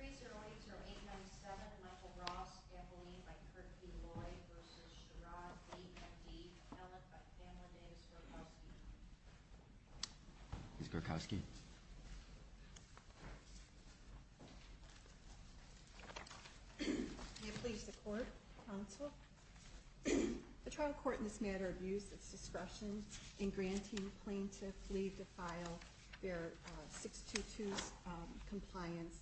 3-0-8-0-8-9-7 Michael Ross, Emily by Kirkby, Lloyd v. Sherrod, Lee, M.D., Ellett by Fanlon, Davis, Gorkowski. Ms. Gorkowski. May it please the Court, Counsel. The trial court in this matter abused its discretion in granting plaintiff Lee to file their 622 compliance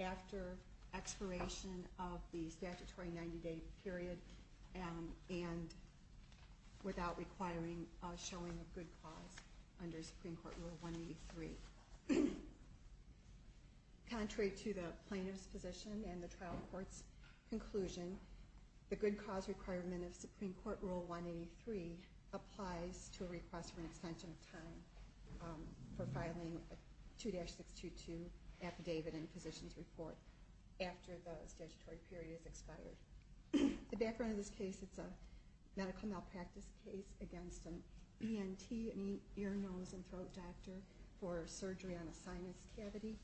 after expiration of the statutory 90-day period and without requiring a showing of good cause under Supreme Court Rule 183. Contrary to the plaintiff's position and the trial court's conclusion, the good cause requirement of Supreme Court Rule 183 applies to a request for an extension of time for filing a 2-622 affidavit and physician's report after the statutory period is expired. The background of this case, it's a medical malpractice case against an ENT, an ear, nose, and throat doctor for surgery on a sinus cavity.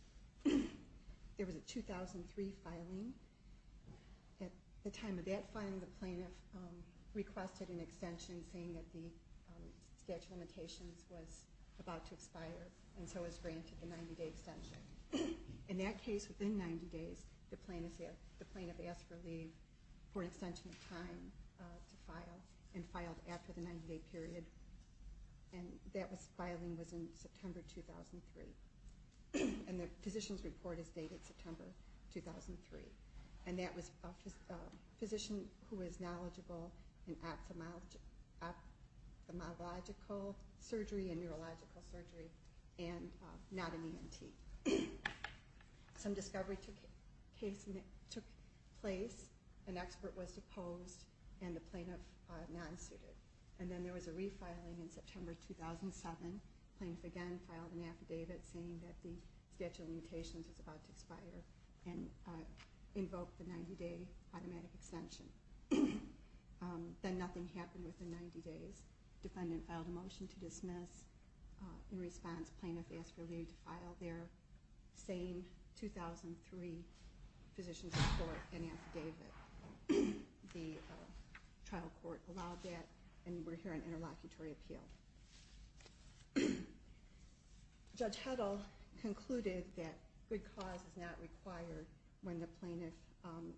There was a 2003 filing. At the time of that filing, the plaintiff requested an extension saying that the statute of limitations was about to expire and so was granted the 90-day extension. In that case, within 90 days, the plaintiff asked for leave for an extension of time to file and filed after the 90-day period and that filing was in September 2003. And the physician's report is dated September 2003. And that was a physician who was knowledgeable in ophthalmological surgery and neurological surgery and not an ENT. Some discovery took place. An expert was deposed and the plaintiff non-suited. And then there was a refiling in September 2007. Plaintiff again filed an affidavit saying that the statute of limitations was about to expire and invoked the 90-day automatic extension. Then nothing happened within 90 days. Defendant filed a motion to dismiss. In response, plaintiff asked for leave to file their same 2003 physician's report and affidavit. The trial court allowed that and we're here on interlocutory appeal. Judge Huddle concluded that good cause is not required when the plaintiff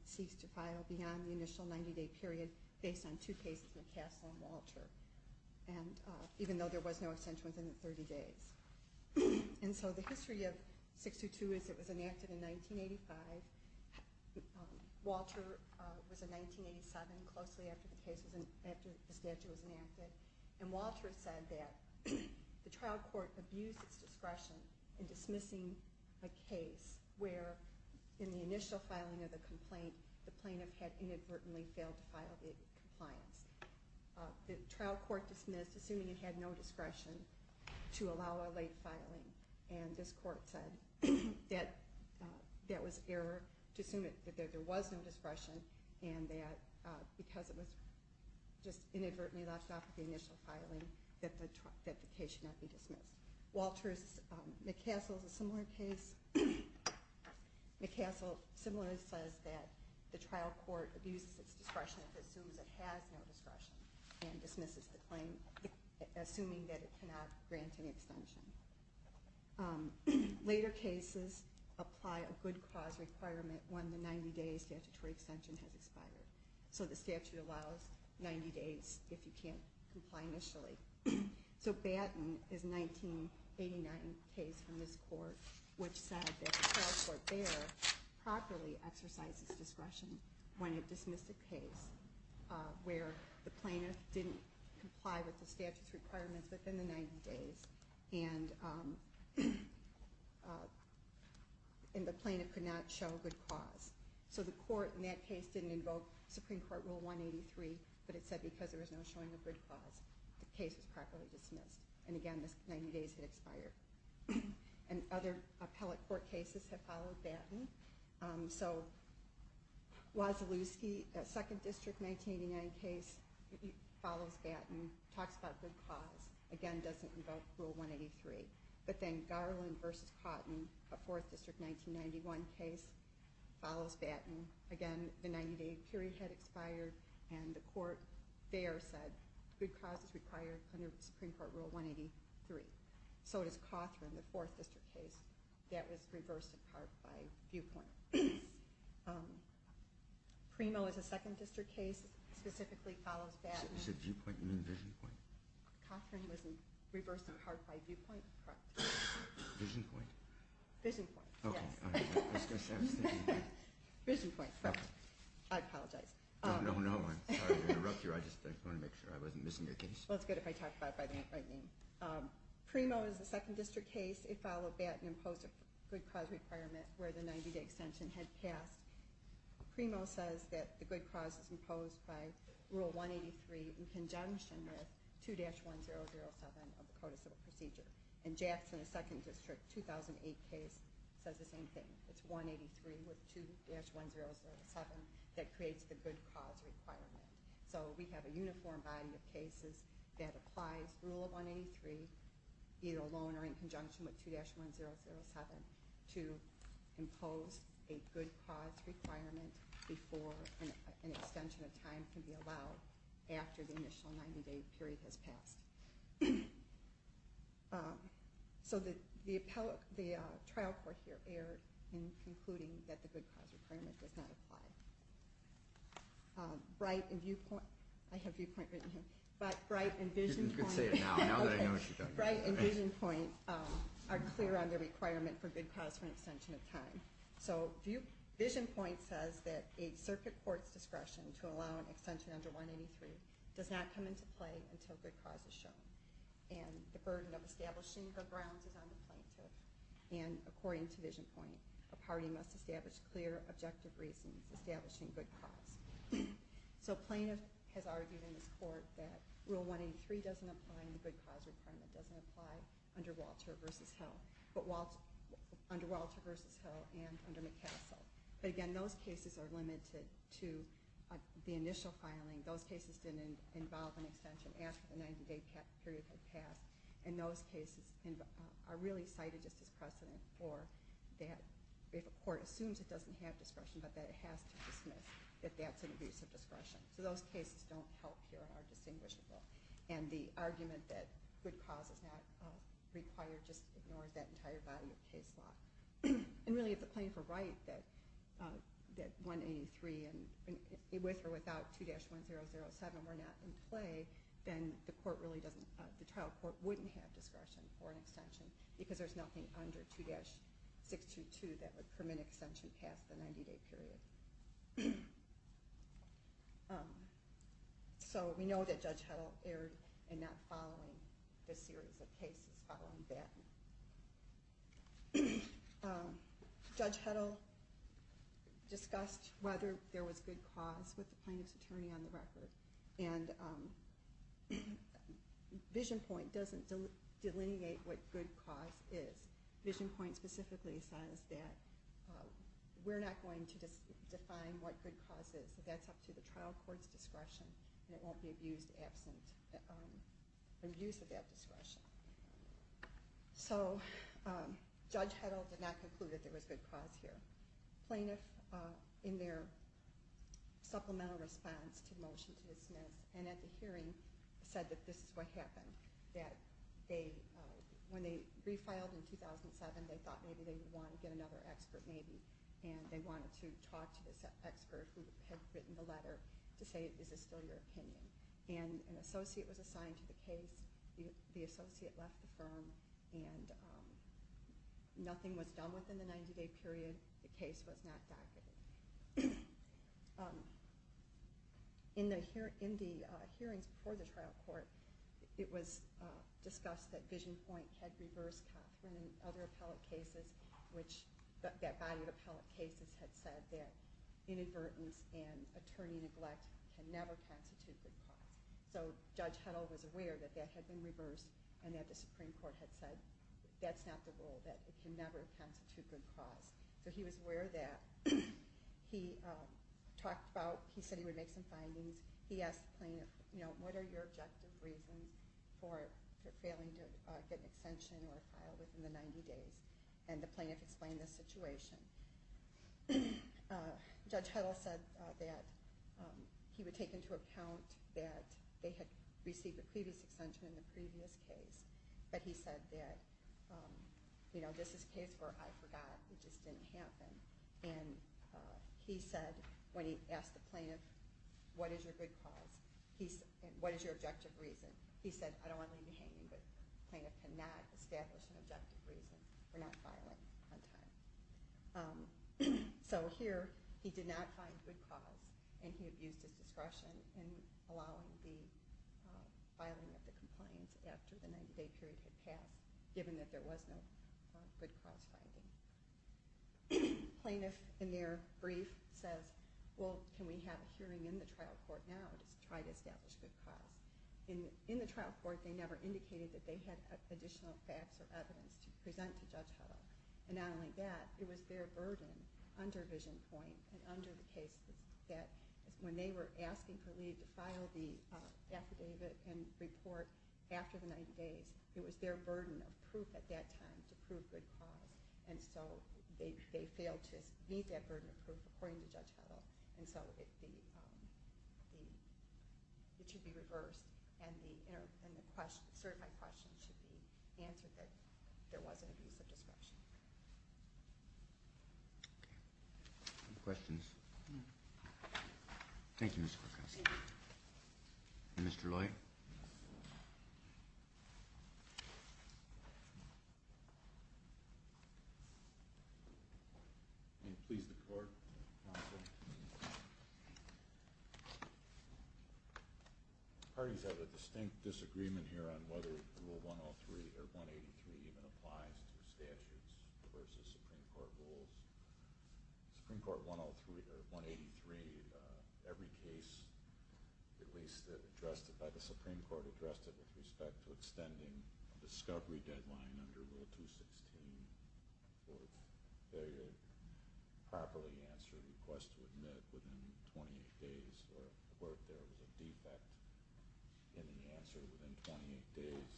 ceased to file beyond the initial 90-day period based on two cases, McCaslin and Walter. And even though there was no extension within the 30 days. And so the history of 602 is it was enacted in 1985. Walter was in 1987, closely after the statute was enacted. And Walter said that the trial court abused its discretion in dismissing a case where in the initial filing of the complaint, the plaintiff had inadvertently failed to file the compliance. The trial court dismissed assuming it had no discretion to allow a late filing. And this court said that that was error to assume that there was no discretion and that because it was just inadvertently left off of the initial filing that the case should not be dismissed. Walter's McCaslin is a similar case. McCaslin similarly says that the trial court abuses its discretion if it assumes it has no discretion and dismisses the claim assuming that it cannot grant any extension. Later cases apply a good cause requirement when the 90-day statutory extension has expired. So the statute allows 90 days if you can't comply initially. So Batten is a 1989 case from this court which said that the trial court there properly exercises discretion when it dismissed a case where the plaintiff didn't comply with the statute's requirements within the 90 days and the plaintiff could not show good cause. So the court in that case didn't invoke Supreme Court Rule 183, but it said because there was no showing of good cause, the case was properly dismissed. And again, the 90 days had expired. And other appellate court cases have followed Batten. So Wasilewski, a 2nd District 1989 case, follows Batten, talks about good cause, again doesn't invoke Rule 183. But then Garland v. Cautin, a 4th District 1991 case, follows Batten. Again, the 90-day period had expired, and the court there said good cause is required under Supreme Court Rule 183. So does Cawthron, the 4th District case. That was reversed in part by viewpoint. Primo is a 2nd District case, specifically follows Batten. You said viewpoint, you mean vision point? Cawthron was reversed in part by viewpoint, correct. Vision point? Vision point, yes. Okay, I was going to say I was thinking that. Vision point, correct. I apologize. No, no, no, I'm sorry to interrupt you. I just wanted to make sure I wasn't missing your case. Well, it's good if I talk about it by the right name. Primo is a 2nd District case. It followed Batten and imposed a good cause requirement where the 90-day extension had passed. Primo says that the good cause is imposed by Rule 183 in conjunction with 2-1007 of the Code of Civil Procedure. And Jackson, a 2nd District 2008 case, says the same thing. It's 183 with 2-1007 that creates the good cause requirement. So we have a uniform body of cases that applies Rule 183, either alone or in conjunction with 2-1007, to impose a good cause requirement before an extension of time can be allowed after the initial 90-day period has passed. So the trial court here erred in concluding that the good cause requirement does not apply. Bright and viewpoint. I have viewpoint written here. But Bright and vision point. You can say it now, now that I know what you're talking about. Bright and vision point are clear on the requirement for good cause for an extension of time. So vision point says that a circuit court's discretion to allow an extension under 183 does not come into play until good cause is shown. And the burden of establishing the grounds is on the plaintiff. And according to vision point, a party must establish clear, objective reasons establishing good cause. So plaintiff has argued in this court that Rule 183 doesn't apply and the good cause requirement doesn't apply under Walter v. Hill. But under Walter v. Hill and under McCaskell. But again, those cases are limited to the initial filing. Those cases didn't involve an extension after the 90-day period had passed. And those cases are really cited just as precedent for that if a court assumes it doesn't have discretion, but that it has to dismiss that that's an abuse of discretion. So those cases don't help here and are distinguishable. And the argument that good cause is not required just ignores that entire body of case law. And really, if the plaintiff were right that 183 with or without 2-1007 were not in play, then the trial court wouldn't have discretion for an extension. Because there's nothing under 2-622 that would permit an extension past the 90-day period. So we know that Judge Heddle erred in not following this series of cases following that. Judge Heddle discussed whether there was good cause with the plaintiff's attorney on the record. And Vision Point doesn't delineate what good cause is. Vision Point specifically says that we're not going to define what good cause is. That's up to the trial court's discretion, and it won't be abused absent abuse of that discretion. So Judge Heddle did not conclude that there was good cause here. The plaintiff, in their supplemental response to the motion to dismiss, and at the hearing, said that this is what happened. That when they refiled in 2007, they thought maybe they would want to get another expert maybe. And they wanted to talk to this expert who had written the letter to say, is this still your opinion? And an associate was assigned to the case. The associate left the firm, and nothing was done within the 90-day period. The case was not docketed. In the hearings before the trial court, it was discussed that Vision Point had reversed Cothran and other appellate cases, which that body of appellate cases had said that inadvertence and attorney neglect can never constitute good cause. So Judge Heddle was aware that that had been reversed, and that the Supreme Court had said that's not the rule, that it can never constitute good cause. So he was aware of that. He talked about, he said he would make some findings. He asked the plaintiff, you know, what are your objective reasons for failing to get an extension or a file within the 90 days? And the plaintiff explained the situation. Judge Heddle said that he would take into account that they had received a previous extension in the previous case, but he said that, you know, this is a case where I forgot. It just didn't happen. And he said, when he asked the plaintiff, what is your good cause, what is your objective reason, he said, I don't want to leave you hanging, but the plaintiff cannot establish an objective reason for not filing on time. So here, he did not find good cause, and he abused his discretion in allowing the filing of the complaints after the 90-day period had passed, given that there was no good cause finding. The plaintiff, in their brief, says, well, can we have a hearing in the trial court now to try to establish good cause? In the trial court, they never indicated that they had additional facts or evidence to present to Judge Heddle. And not only that, it was their burden under VisionPoint and under the case that when they were asking for leave to file the affidavit and report after the 90 days, it was their burden of proof at that time to prove good cause. And so they failed to meet that burden of proof, according to Judge Heddle. And so it should be reversed, and the certified questions should be answered that there wasn't abuse of discretion. Okay. Any questions? Thank you, Mr. Perkins. Mr. Loy? May it please the Court. Counsel. The parties have a distinct disagreement here on whether Rule 103 or 183 even applies to statutes versus Supreme Court rules. Supreme Court 103 or 183, every case, at least addressed by the Supreme Court, addressed it with respect to extending a discovery deadline under Rule 216 for a failure to properly answer a request to admit within 28 days or where there was a defect in the answer within 28 days.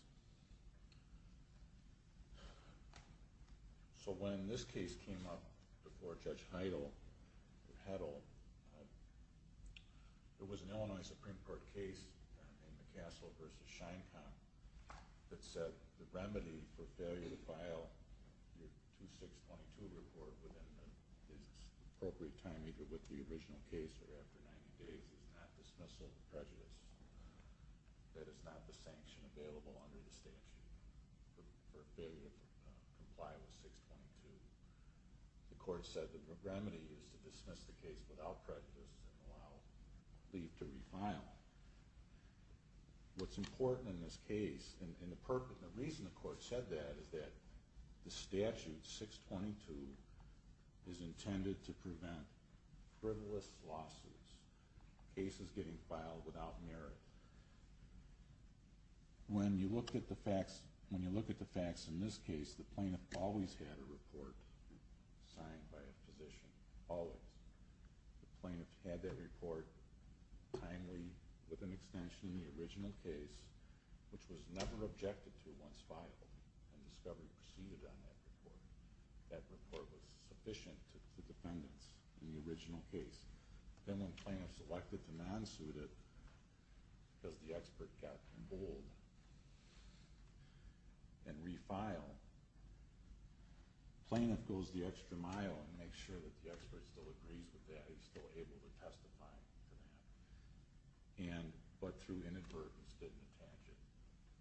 So when this case came up before Judge Heddle, there was an Illinois Supreme Court case in McCaskell v. Sheinkamp that said the remedy for failure to file your 2622 report within the appropriate time, either with the original case or after 90 days, is not dismissal of prejudice. That is not the sanction available under the statute for failure to comply with 622. The Court said the remedy is to dismiss the case without prejudice and allow leave to refile. What's important in this case, and the reason the Court said that, is that the statute 622 is intended to prevent frivolous lawsuits, cases getting filed without merit. When you look at the facts in this case, the plaintiff always had a report signed by a physician, always. The plaintiff had that report timely, with an extension in the original case, which was never objected to once filed, and discovery proceeded on that report. That report was sufficient to defendants in the original case. Then when the plaintiff selected the non-suited, because the expert got emboldened and refiled, the plaintiff goes the extra mile and makes sure that the expert still agrees with that, he's still able to testify to that, but through inadvertence didn't attach it.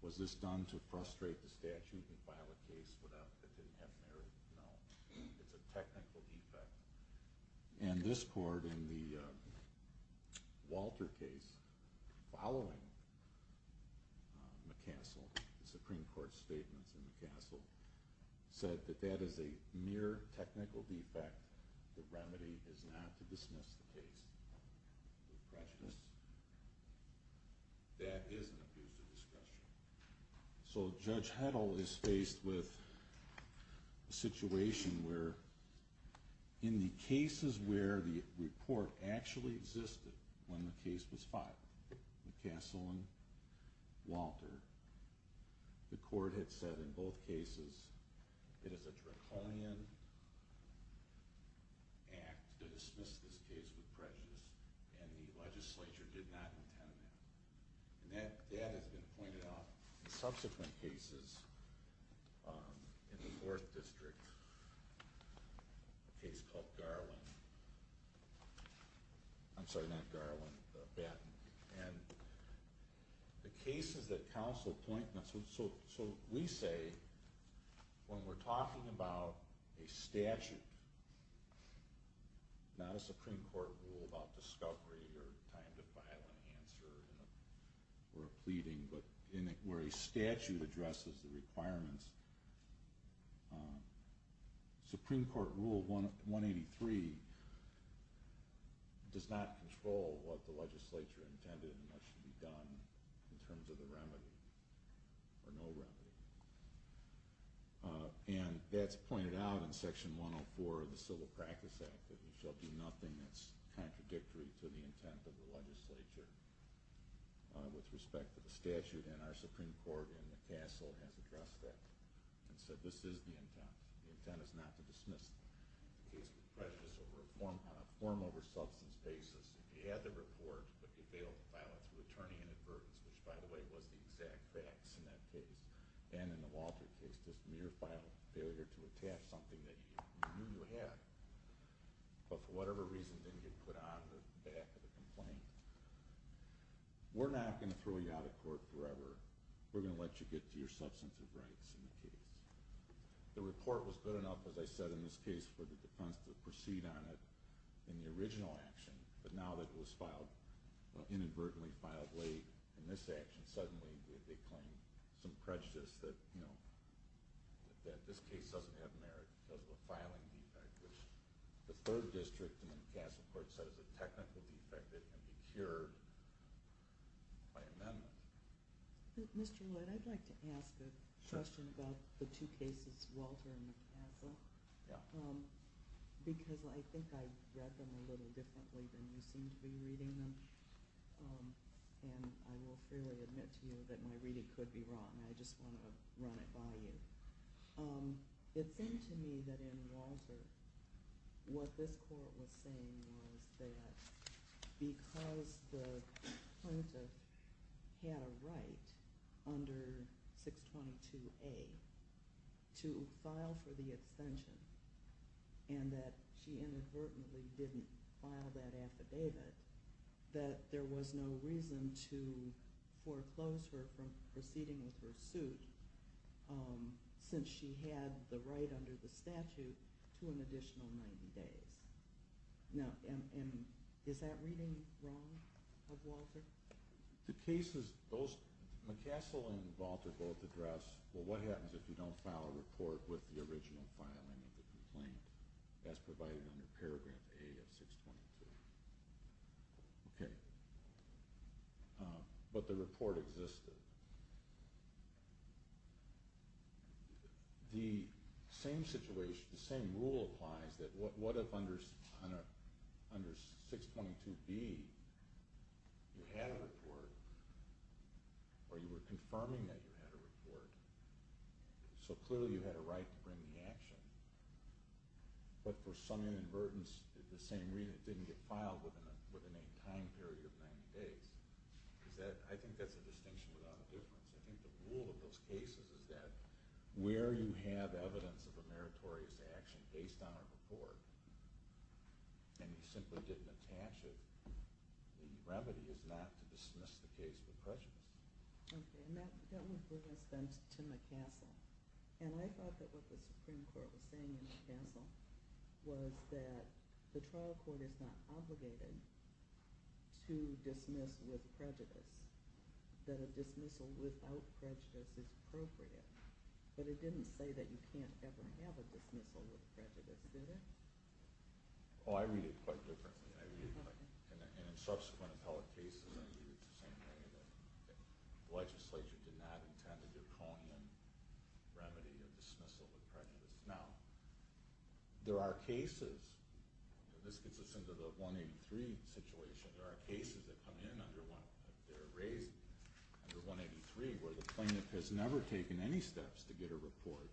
Was this done to frustrate the statute and file a case that didn't have merit? No. It's a technical defect. And this Court, in the Walter case, following McCassell, the Supreme Court's statements in McCassell, said that that is a mere technical defect. The remedy is not to dismiss the case with prejudice. That is an abuse of discretion. So Judge Heddle is faced with a situation where, in the cases where the report actually existed when the case was filed, McCassell and Walter, the Court had said in both cases, it is a draconian act to dismiss this case with prejudice, and the legislature did not intend that. And that has been pointed out in subsequent cases in the 4th District, a case called Garland. I'm sorry, not Garland, Batten. And the cases that counsel pointed out, so we say when we're talking about a statute, not a Supreme Court rule about discovery or time to file an answer or a pleading, but where a statute addresses the requirements, Supreme Court Rule 183 does not control what the legislature intended and what should be done in terms of the remedy, or no remedy. And that's pointed out in Section 104 of the Civil Practice Act, that we shall do nothing that's contradictory to the intent of the legislature with respect to the statute, and our Supreme Court in McCassell has addressed that and said this is the intent. The intent is not to dismiss the case with prejudice on a form over substance basis. If you had the report, but you failed to file it through attorney inadvertence, which by the way was the exact facts in that case, and in the Walter case just mere failure to attach something that you knew you had, but for whatever reason didn't get put on the back of the complaint, we're not going to throw you out of court forever. We're going to let you get to your substantive rights in the case. The report was good enough, as I said in this case, for the defense to proceed on it in the original action, but now that it was inadvertently filed late in this action, suddenly they claim some prejudice that this case doesn't have merit because of a filing defect, which the third district in the McCassell court said is a technical defect that can be cured by amendment. Mr. Lloyd, I'd like to ask a question about the two cases, Walter and McCassell, because I think I read them a little differently than you seem to be reading them, and I will freely admit to you that my reading could be wrong. I just want to run it by you. It seemed to me that in Walter what this court was saying was that because the plaintiff had a right under 622A to file for the extension and that she inadvertently didn't file that affidavit, that there was no reason to foreclose her from proceeding with her suit since she had the right under the statute to an additional 90 days. Now, is that reading wrong of Walter? The cases, McCassell and Walter both address, well, what happens if you don't file a report with the original filing of the complaint as provided under paragraph A of 622? Okay. But the report existed. The same situation, the same rule applies, that what if under 622B you had a report or you were confirming that you had a report, so clearly you had a right to bring the action, but for some inadvertence, the same reason it didn't get filed within a time period of 90 days. I think that's a distinction without a difference. I think the rule of those cases is that where you have evidence of a meritorious action based on a report and you simply didn't attach it, the remedy is not to dismiss the case with prejudice. Okay, and that would bring us then to McCassell. And I thought that what the Supreme Court was saying in McCassell was that the trial court is not obligated to dismiss with prejudice, that a dismissal without prejudice is appropriate, but it didn't say that you can't ever have a dismissal with prejudice, did it? Oh, I read it quite differently. And in subsequent appellate cases, I read it the same way, that the legislature did not intend a draconian remedy of dismissal with prejudice. Now, there are cases, and this gets us into the 183 situation, there are cases that come in under 183 where the plaintiff has never taken any steps to get a report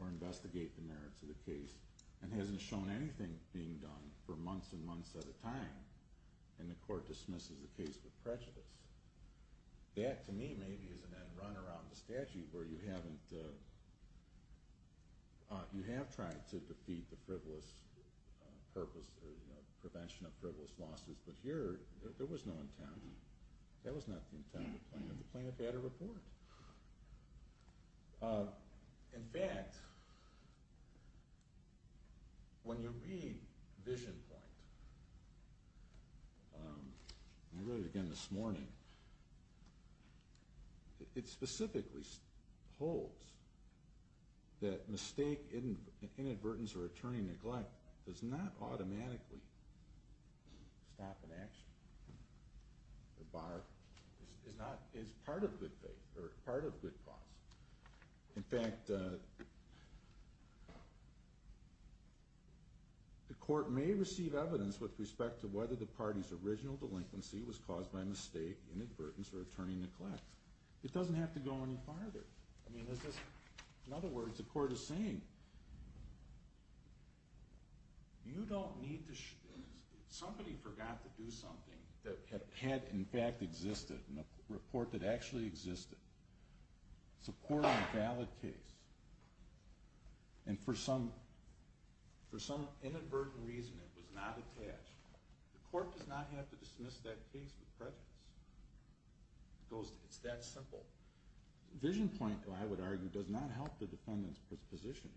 or investigate the merits of the case and hasn't shown anything being done for months and months at a time, and the court dismisses the case with prejudice. That, to me, maybe is an end run around the statute where you have tried to defeat the frivolous purpose or prevention of frivolous losses, but here there was no intent. That was not the intent of the plaintiff. The plaintiff had a report. In fact, when you read Vision Point, I read it again this morning, it specifically holds that mistake, inadvertence, or attorney neglect does not automatically stop an action. The bar is part of good faith or part of good cause. In fact, the court may receive evidence with respect to whether the party's original delinquency was caused by mistake, inadvertence, or attorney neglect. It doesn't have to go any farther. In other words, the court is saying, somebody forgot to do something that had in fact existed in a report that actually existed, supporting a valid case, and for some inadvertent reason it was not attached. The court does not have to dismiss that case with prejudice. It's that simple. Vision Point, I would argue, does not help the defendant's position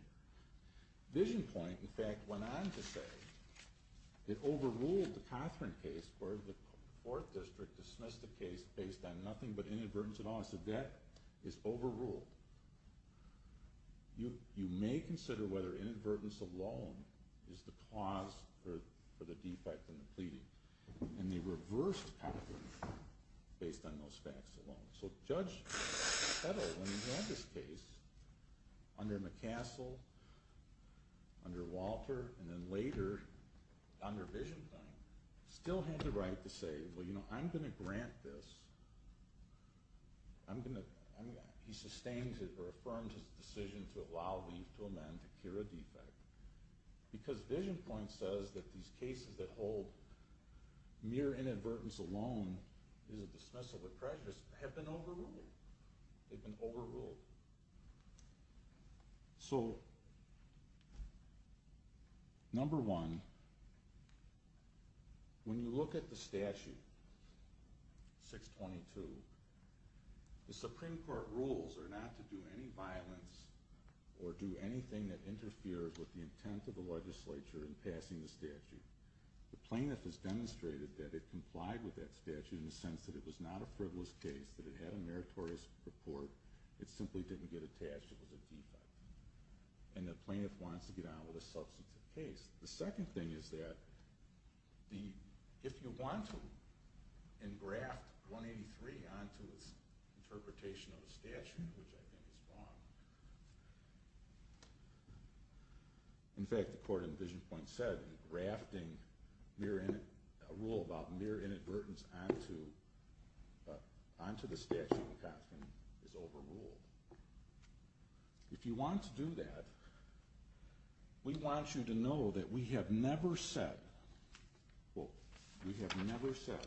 here. Vision Point, in fact, went on to say it overruled the Cothran case where the Fourth District dismissed the case based on nothing but inadvertence at all. So that is overruled. You may consider whether inadvertence alone is the cause for the defect in the pleading, and they reversed Cothran based on those facts alone. So Judge Kettle, when he won this case, under McCassell, under Walter, and then later under Vision Point, still had the right to say, well, you know, I'm going to grant this. He sustained it or affirmed his decision to allow leave to amend to cure a defect because Vision Point says that these cases that hold mere inadvertence alone is a dismissal with prejudice have been overruled. They've been overruled. So, number one, when you look at the statute, 622, the Supreme Court rules are not to do any violence or do anything that interferes with the intent of the legislature in passing the statute. The plaintiff has demonstrated that it complied with that statute in the sense that it was not a frivolous case, that it had a meritorious report. It simply didn't get attached. It was a defect. And the plaintiff wants to get on with a substantive case. The second thing is that if you want to engraft 183 onto its interpretation of the statute, which I think is wrong, in fact, the court in Vision Point said that engrafting a rule about mere inadvertence onto the statute of a constant is overruled. If you want to do that, we want you to know that we have never said, well, we have never said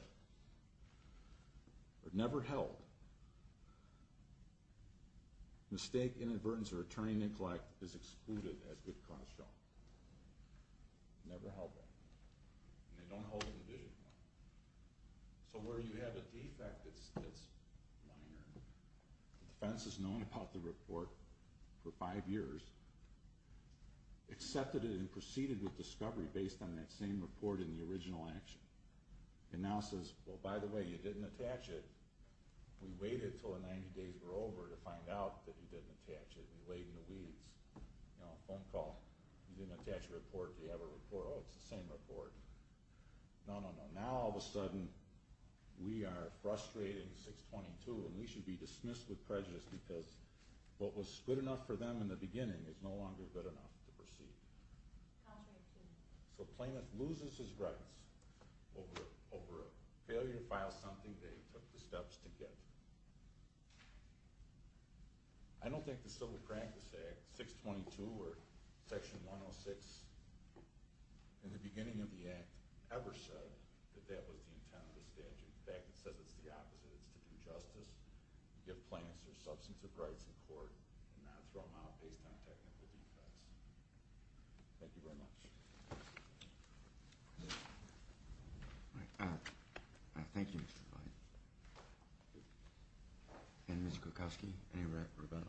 or never held mistake, inadvertence, or attorney neglect is excluded as good cause shown. Never held it. And they don't hold it in Vision Point. So where you have a defect that's minor, the defense has known about the report for five years, accepted it and proceeded with discovery based on that same report in the original action. It now says, well, by the way, you didn't attach it. We waited until the 90 days were over to find out that you didn't attach it. We laid in the weeds. You know, a phone call. You didn't attach a report. Do you have a report? Oh, it's the same report. No, no, no. Now all of a sudden we are frustrating 622 and we should be dismissed with prejudice because what was good enough for them in the beginning is no longer good enough to proceed. So Plaintiff loses his rights over a failure to file something they took the steps to get. I don't think the Civil Practice Act, 622, or Section 106 in the beginning of the Act ever said that that was the intent of the statute. In fact, it says it's the opposite. It's to do justice, give plaintiffs their substantive rights in court, and not throw them out based on technical defects. Thank you very much. Thank you, Mr. Fine. And Ms. Kulkowski, any rebuttal?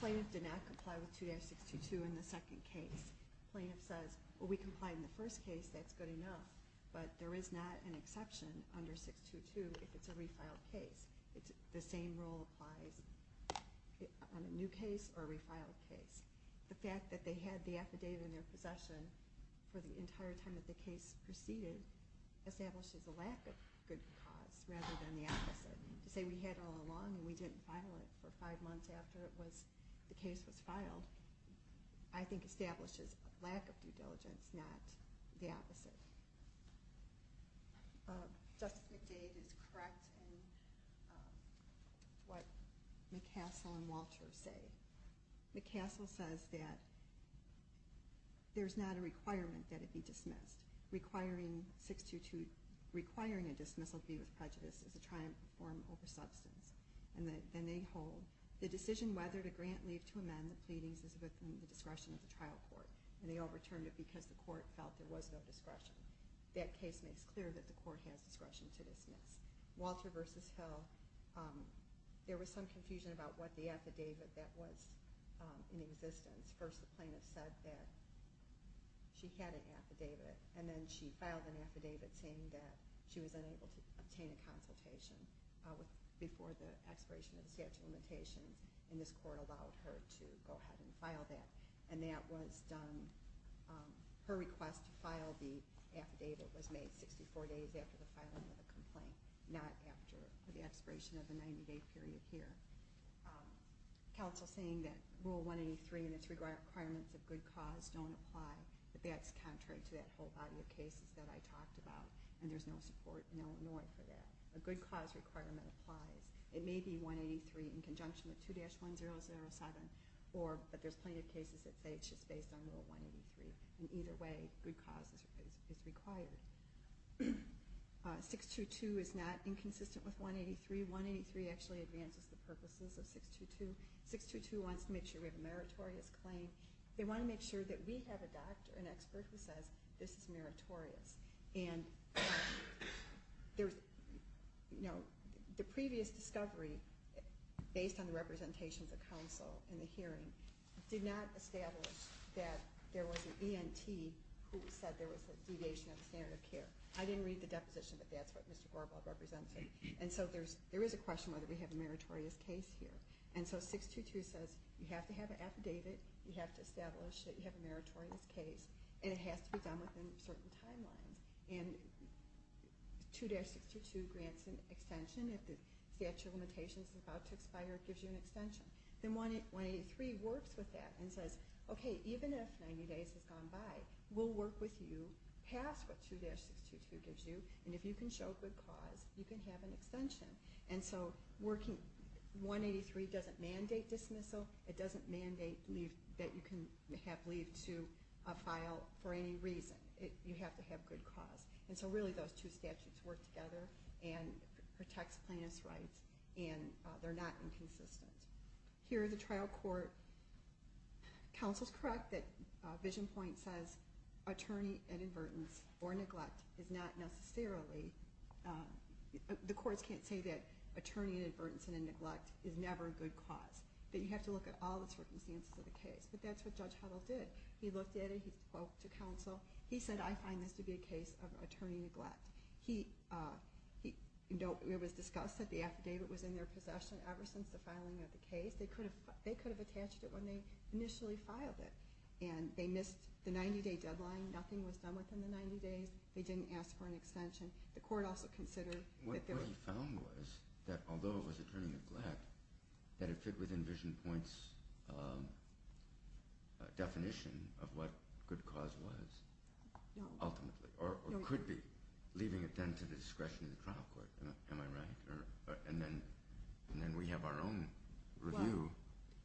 Plaintiff did not comply with 2-622 in the second case. Plaintiff says, well, we complied in the first case. That's good enough. But there is not an exception under 622 if it's a refiled case. The same rule applies in the second case. On a new case or a refiled case. The fact that they had the affidavit in their possession for the entire time that the case proceeded establishes a lack of good cause rather than the opposite. To say we had it all along and we didn't file it for five months after the case was filed I think establishes a lack of due diligence, not the opposite. Justice McDade is correct in what McCassell and Walter say. McCassell says that there's not a requirement that it be dismissed. Requiring a dismissal to be with prejudice is a triumph of form over substance. And then they hold the decision whether to grant leave to amend the pleadings is within the discretion of the trial court. And they overturned it because the court felt there was no discretion. That case makes clear that the court has discretion to dismiss. Walter v. Hill, there was some confusion about what the affidavit that was in existence. First the plaintiff said that she had an affidavit and then she filed an affidavit saying that she was unable to obtain a consultation before the expiration of the statute of limitations and this court allowed her to go ahead and file that. And that was done, her request to file the affidavit was made 64 days after the filing of the complaint, not after the expiration of the 90-day period here. Council saying that Rule 183 and its requirements of good cause don't apply, that's contrary to that whole body of cases that I talked about and there's no support in Illinois for that. A good cause requirement applies. It may be 183 in conjunction with 2-1007, but there's plaintiff cases that say it's just based on Rule 183. And either way, good cause is required. 622 is not inconsistent with 183. 183 actually advances the purposes of 622. 622 wants to make sure we have a meritorious claim. They want to make sure that we have a doctor, an expert who says this is meritorious. And the previous discovery, based on the representations of counsel in the hearing, did not establish that there was an ENT who said there was a deviation of the standard of care. I didn't read the deposition, but that's what Mr. Gorbal represents. And so there is a question whether we have a meritorious case here. And so 622 says you have to have an affidavit, you have to establish that you have a meritorious case, and it has to be done within certain timelines. And 2-622 grants an extension. If the statute of limitations is about to expire, it gives you an extension. Then 183 works with that and says, okay, even if 90 days has gone by, we'll work with you past what 2-622 gives you, and if you can show good cause, you can have an extension. And so 183 doesn't mandate dismissal, it doesn't mandate that you can have leave to a file for any reason. You have to have good cause. And so really those two statutes work together and protects plaintiff's rights, and they're not inconsistent. Here in the trial court, counsel's correct that VisionPoint says attorney inadvertence or neglect is not necessarily, the courts can't say that attorney inadvertence and neglect is never a good cause. That you have to look at all the circumstances of the case. But that's what Judge Huddle did. He looked at it, he spoke to counsel. He said, I find this to be a case of attorney neglect. It was discussed that the affidavit was in their possession ever since the filing of the case. They could have attached it when they initially filed it, and they missed the 90-day deadline. Nothing was done within the 90 days. They didn't ask for an extension. The court also considered that there was... What he found was that although it was attorney neglect, that it fit within VisionPoint's definition of what good cause was, ultimately, or could be. Leaving it, then, to the discretion of the trial court. Am I right? And then we have our own review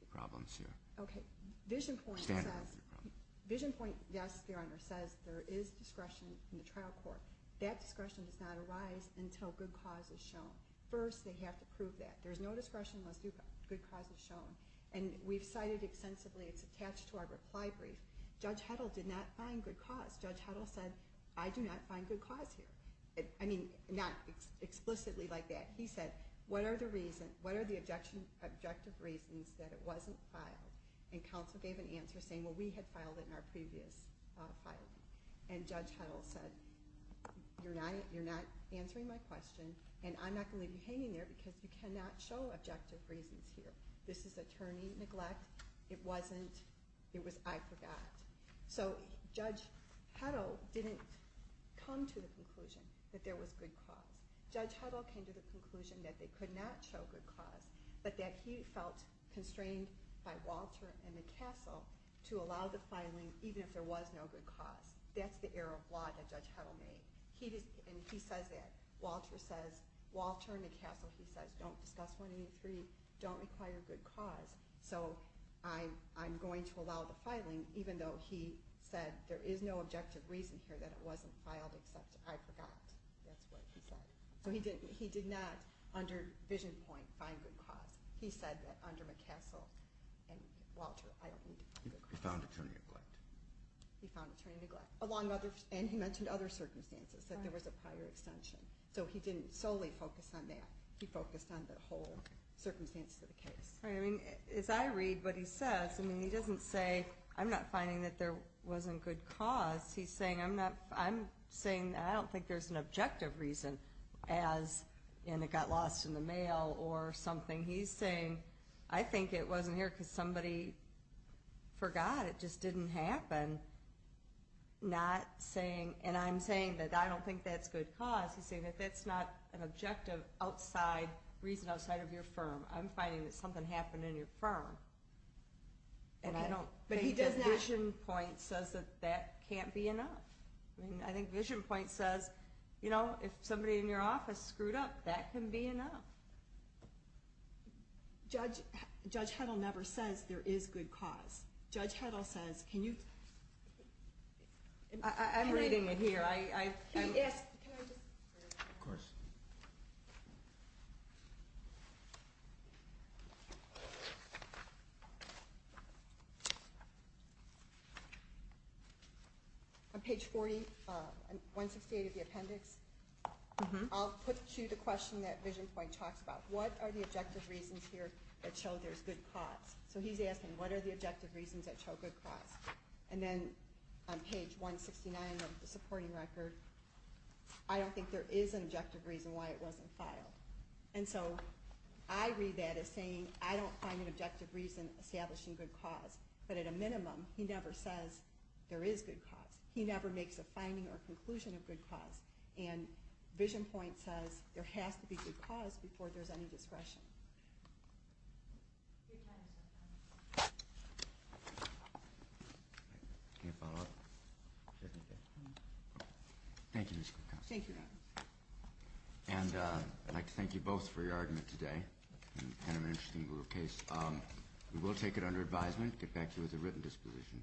problems here. Okay. VisionPoint says... VisionPoint, yes, Your Honor, says there is discretion in the trial court. That discretion does not arise until good cause is shown. First, they have to prove that. There's no discretion unless good cause is shown. And we've cited extensively, it's attached to our reply brief. Judge Huddle did not find good cause. Judge Huddle said, I do not find good cause here. I mean, not explicitly like that. He said, What are the objective reasons that it wasn't filed? And counsel gave an answer saying, Well, we had filed it in our previous filing. And Judge Huddle said, You're not answering my question, and I'm not going to leave you hanging there because you cannot show objective reasons here. This is attorney neglect. It was, I forgot. So Judge Huddle didn't come to the conclusion that there was good cause. Judge Huddle came to the conclusion that they could not show good cause, but that he felt constrained by Walter and McCassell to allow the filing even if there was no good cause. That's the error of law that Judge Huddle made. And he says that. Walter says, Walter and McCassell, he says, don't discuss 183, don't require good cause. So I'm going to allow the filing, even though he said there is no objective reason here that it wasn't filed, except I forgot. That's what he said. So he did not, under vision point, find good cause. He said that under McCassell and Walter, I don't need to find good cause. He found attorney neglect. He found attorney neglect. And he mentioned other circumstances, that there was a prior extension. So he didn't solely focus on that. He focused on the whole circumstances of the case. I mean, as I read what he says, I mean, he doesn't say, I'm not finding that there wasn't good cause. He's saying, I'm saying, I don't think there's an objective reason as in it got lost in the mail or something. He's saying, I think it wasn't here because somebody forgot. It just didn't happen. Not saying, and I'm saying that I don't think that's good cause. He's saying that that's not an objective outside, reason outside of your firm. I'm finding that something happened in your firm. And I don't think that vision point says that that can't be enough. I mean, I think vision point says, you know, if somebody in your office screwed up, that can be enough. Judge Heddle never says there is good cause. Judge Heddle says, can you... I'm reading it here. Can I just... Of course. On page 40, 168 of the appendix, I'll put to the question that vision point talks about. What are the objective reasons here that show there's good cause? So he's asking, what are the objective reasons that show good cause? And then on page 169 of the supporting record, I don't think there is an objective reason why it wasn't filed. And so I read that as saying, I don't find an objective reason establishing good cause. But at a minimum, he never says there is good cause. He never makes a finding or conclusion of good cause. And vision point says, there has to be good cause before there's any discretion. Can you follow up? Thank you, Ms. Goodhouse. Thank you. And I'd like to thank you both for your argument today. Kind of an interesting little case. We will take it under advisement, get back to you with a written disposition.